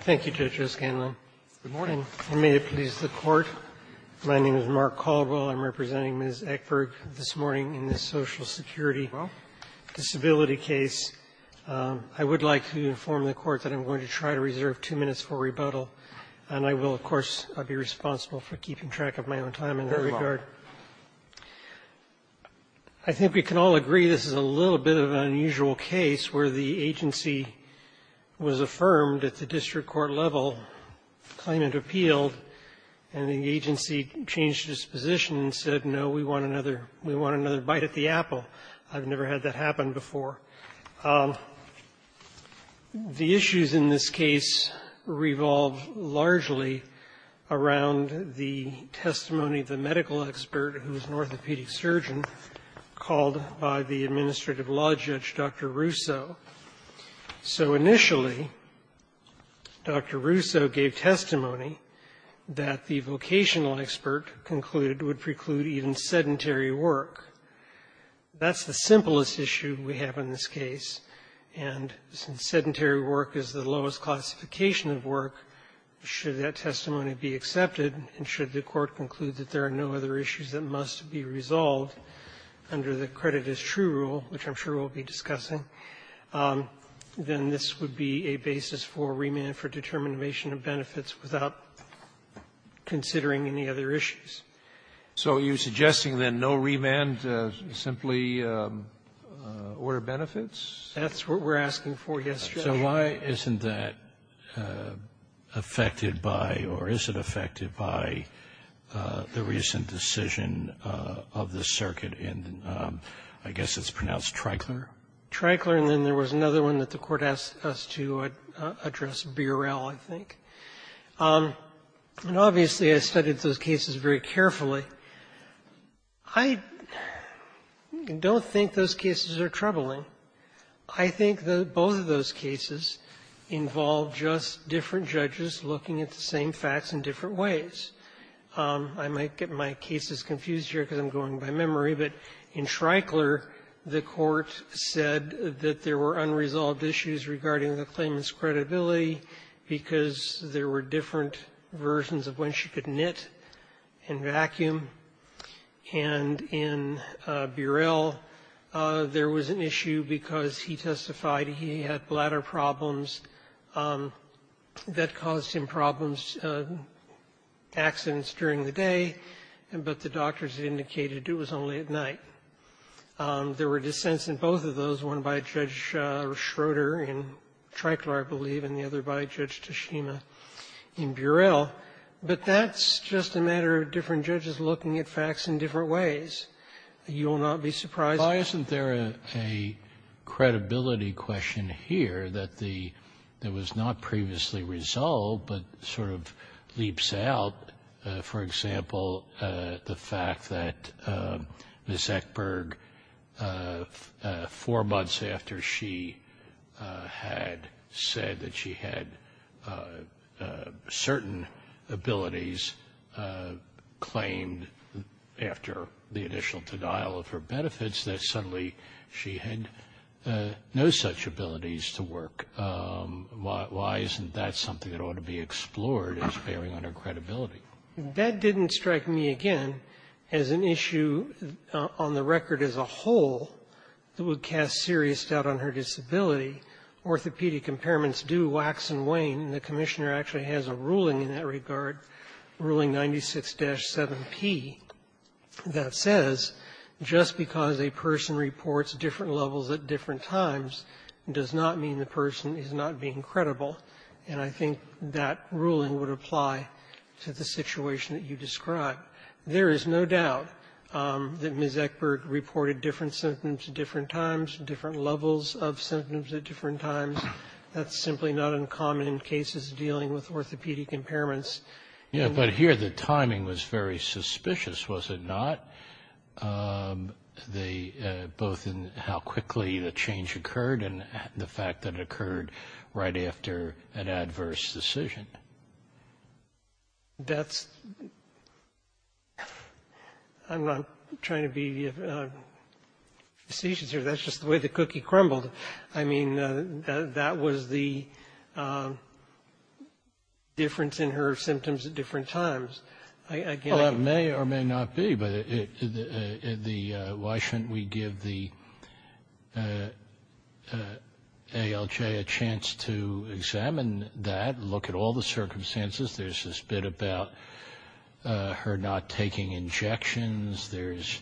Thank you, Judge O'Scanlon. Good morning. And may it please the Court, my name is Mark Caldwell. I'm representing Ms. Eckberg this morning in this Social Security disability case. I would like to inform the Court that I'm going to try to reserve two minutes for rebuttal, and I will, of course, be responsible for keeping track of my own time in that regard. I think we can all agree this is a little bit of an unusual case where the agency was affirmed at the district court level, claimed it appealed, and the agency changed its position and said, no, we want another bite at the apple. I've never had that happen before. The issues in this case revolve largely around the testimony of the medical expert who was an orthopedic surgeon called by the administrative law judge, Dr. Russo. So initially, Dr. Russo gave testimony that the vocational expert concluded would preclude even sedentary work. That's the simplest issue we have in this case, and since sedentary work is the lowest classification of work, should that testimony be accepted, and should the Court conclude that there are no other issues that must be resolved under the rule, which I'm sure we'll be discussing, then this would be a basis for remand for determination of benefits without considering any other issues. So you're suggesting, then, no remand, simply order benefits? That's what we're asking for, yes, Your Honor. So why isn't that affected by, or is it affected by, the recent decision of the circuit in, I guess it's pronounced, Tricler? Tricler, and then there was another one that the Court asked us to address, Burel, I think. And obviously, I studied those cases very carefully. I don't think those cases are troubling. I think that both of those cases involve just different judges looking at the same facts in different ways. I might get my cases confused here because I'm going by memory, but in Tricler, the Court said that there were unresolved issues regarding the claimant's credibility because there were different versions of when she could knit and vacuum. And in Burel, there was an issue because he testified he had bladder problems that caused him problems, accidents during the day, but the doctors indicated it was only at night. There were dissents in both of those, one by Judge Schroeder in Tricler, I believe, and the other by Judge Tashima in Burel. But that's just a matter of different judges looking at facts in different ways. You will not be surprised. Well, isn't there a credibility question here that was not previously resolved but sort of leaps out? For example, the fact that Ms. Eckberg, four months after she had said that she had certain abilities claimed after the initial denial of her benefits, that she had no such abilities to work, why isn't that something that ought to be explored as bearing on her credibility? That didn't strike me, again, as an issue on the record as a whole that would cast serious doubt on her disability. Orthopedic impairments do wax and wane. The Commissioner actually has a ruling in that regard, Ruling 96-7P, that says just because a person reports different levels at different times does not mean the person is not being credible. And I think that ruling would apply to the situation that you described. There is no doubt that Ms. Eckberg reported different symptoms at different times, different levels of symptoms at different times. That's simply not uncommon in cases dealing with orthopedic impairments. Yeah, but here the timing was very suspicious, was it not, both in how quickly the change occurred and the fact that it occurred right after an adverse decision? That's, I'm not trying to be facetious here. That's just the way the cookie crumbled. I mean, that was the difference in her symptoms at different times. Well, it may or may not be, but why shouldn't we give the ALJ a chance to examine that, look at all the circumstances? There's this bit about her not taking injections. There's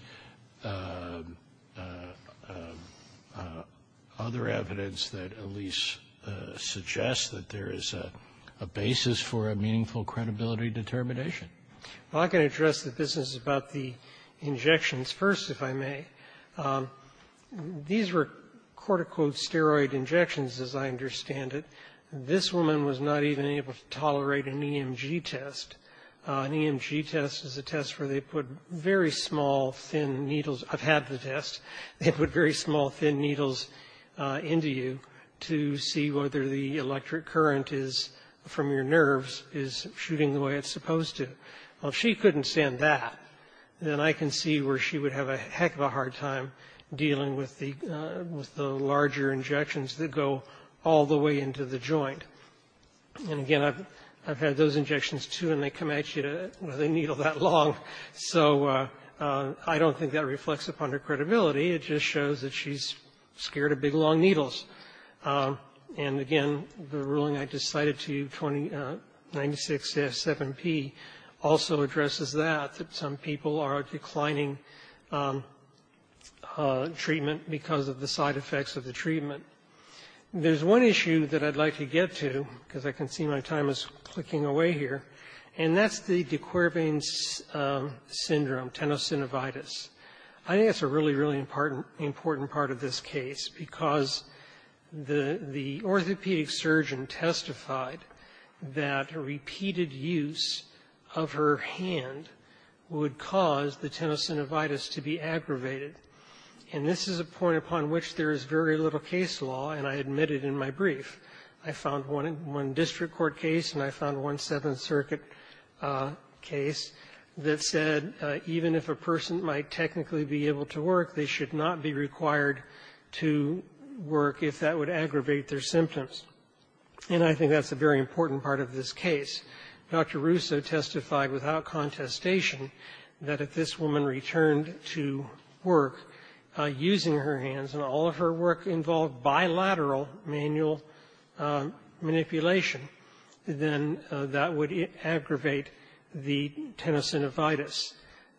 other evidence that at least suggests that there is a basis for a meaningful credibility determination. Well, I can address the business about the injections first, if I may. These were, quote, unquote, steroid injections, as I understand it. This woman was not even able to tolerate an EMG test. An EMG test is a test where they put very small, thin needles. I've had the test. They put very small, thin needles into you to see whether the electric current is, from your nerves, is shooting the way it's supposed to. Well, if she couldn't stand that, then I can see where she would have a heck of a hard time dealing with the larger injections that go all the way into the joint. And again, I've had those injections, too, and they come at you to, you know, they needle that long. So I don't think that reflects upon her credibility. It just shows that she's scared of big, long needles. And again, the ruling I just cited to you, 96S7P, also addresses that, that some people are declining treatment because of the side effects of the treatment. There's one issue that I'd like to get to, because I can see my time is clicking away here, and that's the de Quervain syndrome, tenosynovitis. I think that's a really, really important part of this case because the orthopedic surgeon testified that repeated use of her hand would cause the tenosynovitis to be aggravated. And this is a point upon which there is very little case law, and I admitted in my brief. I found one district court case, and I found one Seventh Circuit case that said even if a person might technically be able to work, they should not be required to work if that would aggravate their symptoms. And I think that's a very important part of this case. Dr. Russo testified without contestation that if this woman returned to work using her hands, and all of her work involved bilateral manual manipulation, then that would aggravate the tenosynovitis.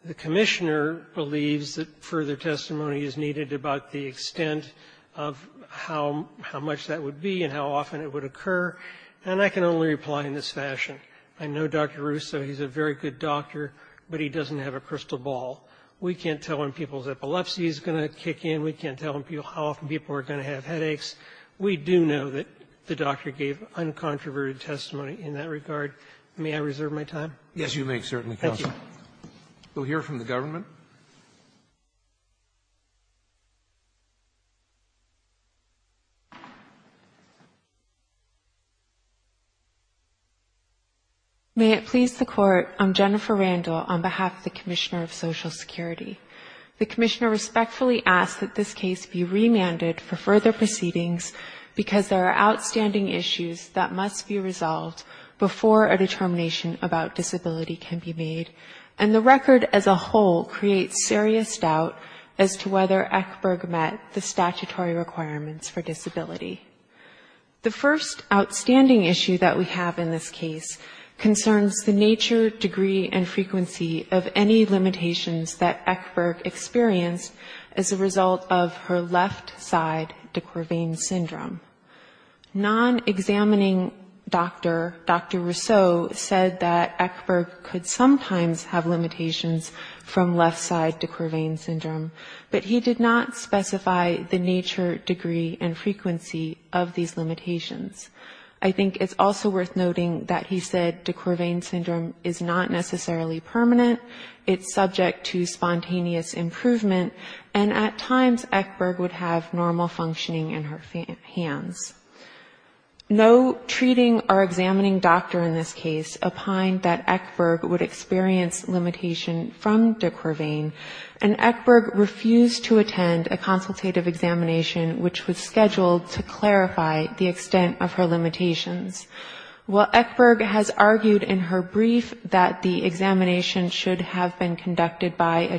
The commissioner believes that further testimony is needed about the extent of how much that would be and how often it would occur. And I can only reply in this fashion. I know Dr. Russo. He's a very good doctor, but he doesn't have a crystal ball. We can't tell him people's epilepsy is going to kick in. We can't tell him how often people are going to have headaches. We do know that the doctor gave uncontroverted testimony in that regard. May I reserve my time? Roberts. Yes, you may, certainly, counsel. Thank you. We'll hear from the government. May it please the court, I'm Jennifer Randall on behalf of the Commissioner of Social Security. The commissioner respectfully asks that this case be remanded for further proceedings because there are outstanding issues that must be resolved before a And the record as a whole creates serious doubt as to whether Ekberg met the statutory requirements for disability. The first outstanding issue that we have in this case concerns the nature, degree, and frequency of any limitations that Ekberg experienced as a result of her left side De Quervain syndrome. Non-examining doctor, Dr. Rousseau, said that Ekberg could sometimes have limitations from left side De Quervain syndrome, but he did not specify the nature, degree, and frequency of these limitations. I think it's also worth noting that he said De Quervain syndrome is not necessarily permanent. It's subject to spontaneous improvement. And at times Ekberg would have normal functioning in her hands. No treating or examining doctor in this case opined that Ekberg would experience limitation from De Quervain, and Ekberg refused to attend a consultative examination which was scheduled to clarify the extent of her limitations. While Ekberg has argued in her brief that the examination should have been Her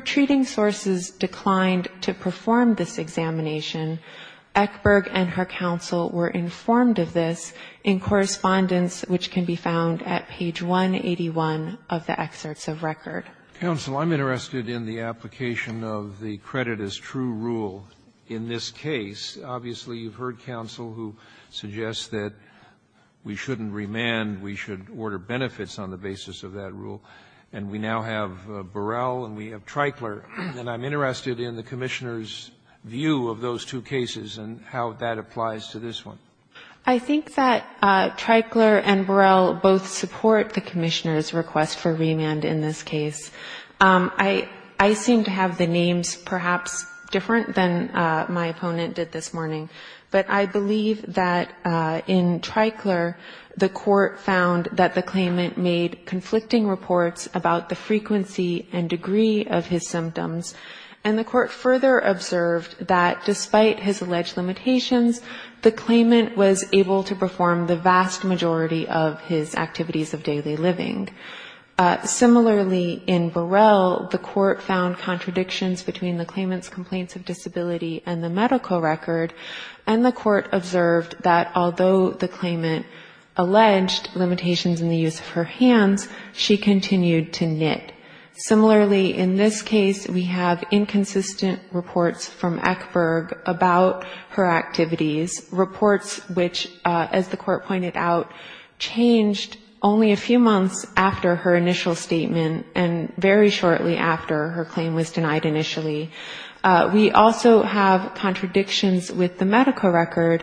treating sources declined to perform this examination. Ekberg and her counsel were informed of this in correspondence which can be found at page 181 of the excerpts of record. Robertson, I'm interested in the application of the credit as true rule in this case. Obviously, you've heard counsel who suggests that we shouldn't remand. We should order benefits on the basis of that rule. And we now have Burrell and we have Treichler. And I'm interested in the Commissioner's view of those two cases and how that applies to this one. I think that Treichler and Burrell both support the Commissioner's request for remand in this case. I seem to have the names perhaps different than my opponent did this morning. But I believe that in Treichler, the Court found that the claimant made conflicting reports about the frequency and degree of his symptoms. And the Court further observed that despite his alleged limitations, the claimant was able to perform the vast majority of his activities of daily living. Similarly, in Burrell, the Court found contradictions between the claimant's complaints of disability and the medical record. And the Court observed that although the claimant alleged limitations in the use of her hands, she continued to knit. Similarly, in this case, we have inconsistent reports from Ekberg about her activities, reports which, as the Court pointed out, changed only a few months after her initial statement and very shortly after her claim was denied initially. We also have contradictions with the medical record,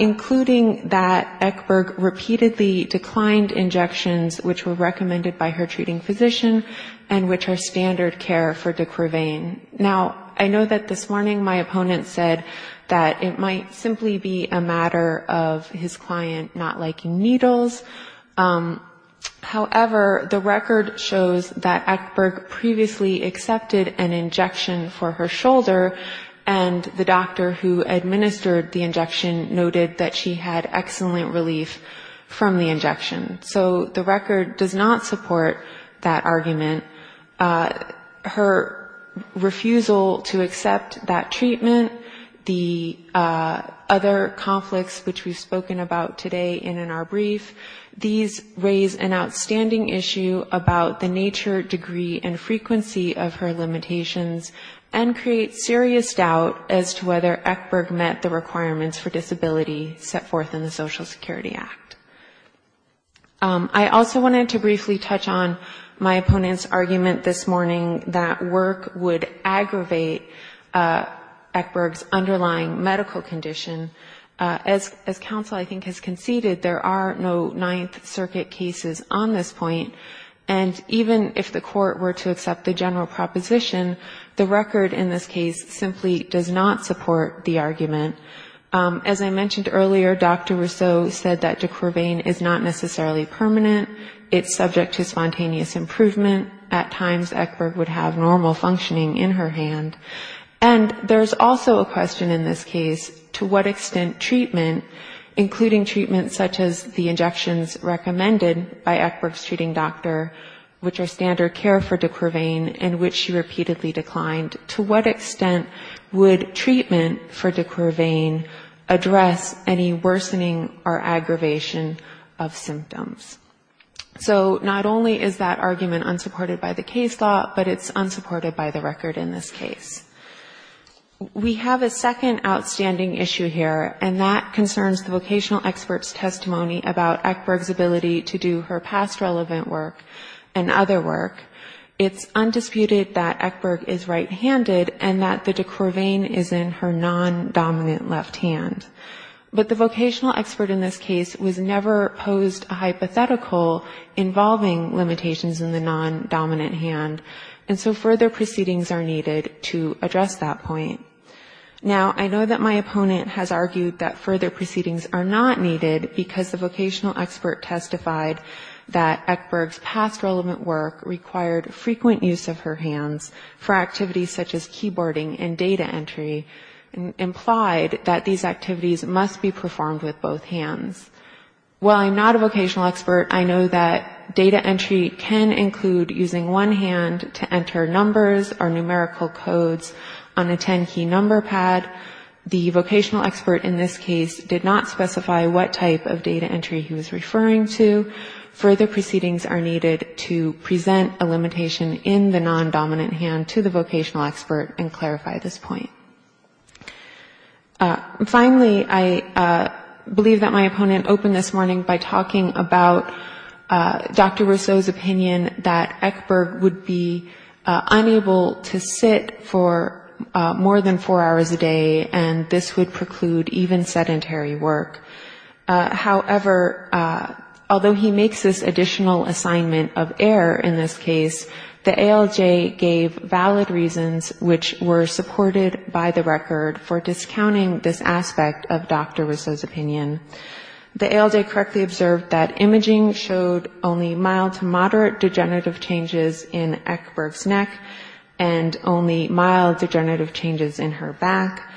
including that Ekberg repeatedly declined injections which were recommended by her treating physician and which are standard care for de Quervain. Now, I know that this morning my opponent said that it might simply be a matter of his client not liking needles. However, the record shows that Ekberg previously accepted an injection for her shoulder and the doctor who administered the injection noted that she had excellent relief from the injection. So the record does not support that argument. Her refusal to accept that treatment, the other conflicts which we've spoken about today and in our brief, these raise an outstanding issue about the nature, degree and frequency of her limitations and create serious doubt as to whether Ekberg met the requirements for disability set forth in the Social Security Act. I also wanted to briefly touch on my opponent's argument this morning that work would aggravate Ekberg's underlying medical condition. As counsel, I think, has conceded, there are no Ninth Circuit cases on this point and even if the Court were to accept the general proposition, the record in this case simply does not support the argument. As I mentioned earlier, Dr. Rousseau said that Ducrevain is not necessarily permanent. It's subject to spontaneous improvement. At times Ekberg would have normal functioning in her hand. And there's also a question in this case, to what extent treatment, including treatment such as the injections recommended by Ekberg's treating doctor, which are standard care for Ducrevain, address any worsening or aggravation of symptoms. So not only is that argument unsupported by the case law, but it's unsupported by the record in this case. We have a second outstanding issue here and that concerns the vocational expert's testimony about Ekberg's ability to do her past relevant work and other work. It's undisputed that Ekberg is right-handed and that the Ducrevain is in her non-dominant left hand. But the vocational expert in this case was never posed a hypothetical involving limitations in the non-dominant hand. And so further proceedings are needed to address that point. Now I know that my opponent has argued that further proceedings are not needed because the vocational expert testified that Ekberg's past relevant work required frequent use of her hands for activities such as keyboarding and data entry, implied that these activities must be performed with both hands. While I'm not a vocational expert, I know that data entry can include using one hand to enter numbers or numerical codes on a 10-key number pad. The vocational expert in this case did not specify what type of data entry he was referring to. Further proceedings are needed to present a limitation in the non-dominant hand to the vocational expert and clarify this point. Finally, I believe that my opponent opened this morning by talking about Dr. Rousseau's opinion that Ekberg would be unable to sit for more than four hours a day and this would preclude even sedentary work. However, although he makes this additional assignment of error in this case, the ALJ gave valid reasons which were supported by the record for discounting this aspect of Dr. Rousseau's opinion. The ALJ correctly observed that imaging showed only mild to moderate degenerative changes in Ekberg's neck and only mild degenerative changes in her back.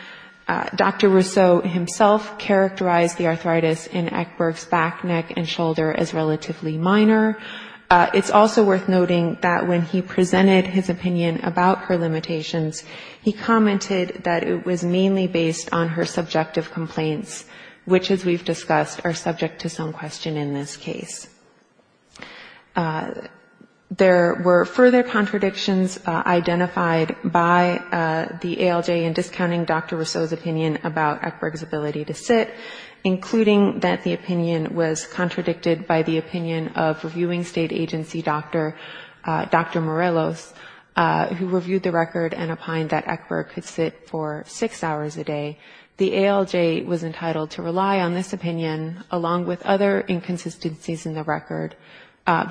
Dr. Rousseau himself characterized the arthritis in Ekberg's back, neck and shoulder as relatively minor. It's also worth noting that when he presented his opinion about her limitations, he commented that it was mainly based on her subjective complaints, which as we've discussed are subject to some question in this case. There were further contradictions identified by the ALJ in discounting Dr. Rousseau's opinion about Ekberg's ability to sit, including that the opinion was contradicted by the opinion of reviewing state agency Dr. Morelos, who reviewed the record and opined that Ekberg could sit for 6 hours a day. The ALJ was entitled to rely on this opinion, along with other inconsistencies in the record,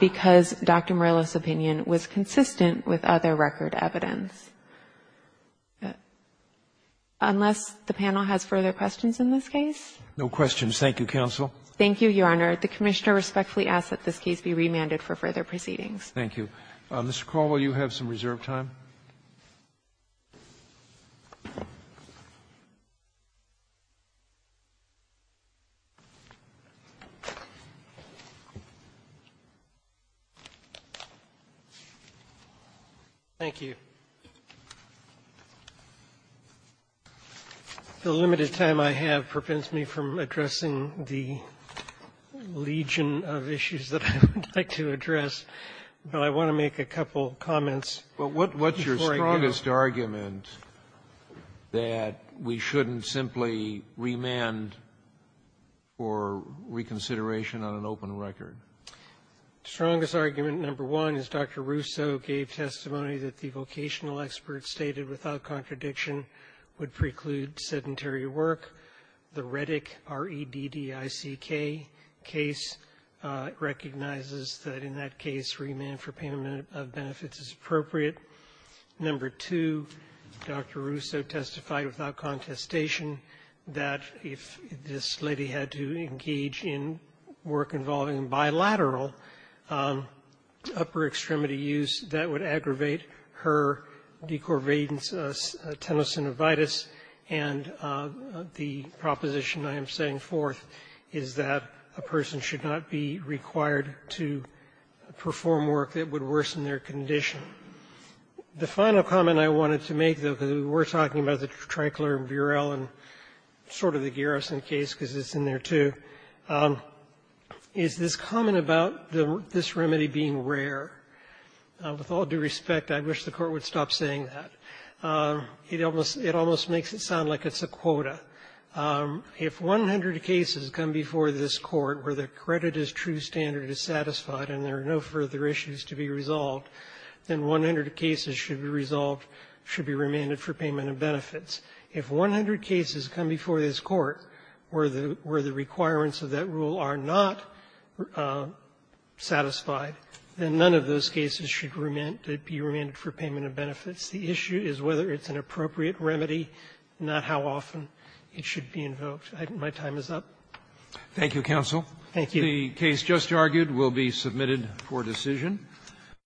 because Dr. Morelos' opinion was consistent with other record evidence. Unless the panel has further questions in this case? No questions. Thank you, counsel. Thank you, Your Honor. The Commissioner respectfully asks that this case be remanded for further proceedings. Thank you. Mr. Carl, will you have some reserve time? Thank you. The limited time I have prevents me from addressing the legion of issues that I would like to address. But I want to make a couple comments before I go. But what's your strongest argument that we shouldn't simply remand for reconsideration on an open record? The strongest argument, number one, is Dr. Rousseau gave testimony that the vocational experts stated without contradiction would preclude sedentary work. The Reddick R-E-D-D-I-C-K case recognizes that in that case, remand for payment of benefits is appropriate. Number two, Dr. Rousseau testified without contestation that if this lady had to engage in work involving bilateral upper-extremity use, that would aggravate her decorvades tenosynovitis. And the proposition I am setting forth is that a person should not be required to perform work that would worsen their condition. The final comment I wanted to make, though, because we were talking about the Trankler and Burell and sort of the Garrison case, because it's in there, too, is this comment about this remedy being rare. With all due respect, I wish the Court would stop saying that. It almost makes it sound like it's a quota. If 100 cases come before this Court where the credit as true standard is satisfied and there are no further issues to be resolved, then 100 cases should be resolved, should be remanded for payment of benefits. If 100 cases come before this Court where the requirements of that rule are not satisfied, then none of those cases should be remanded for payment of benefits. The issue is whether it's an appropriate remedy, not how often it should be invoked. I think my time is up. Roberts. Thank you, counsel. The case just argued will be submitted for decision.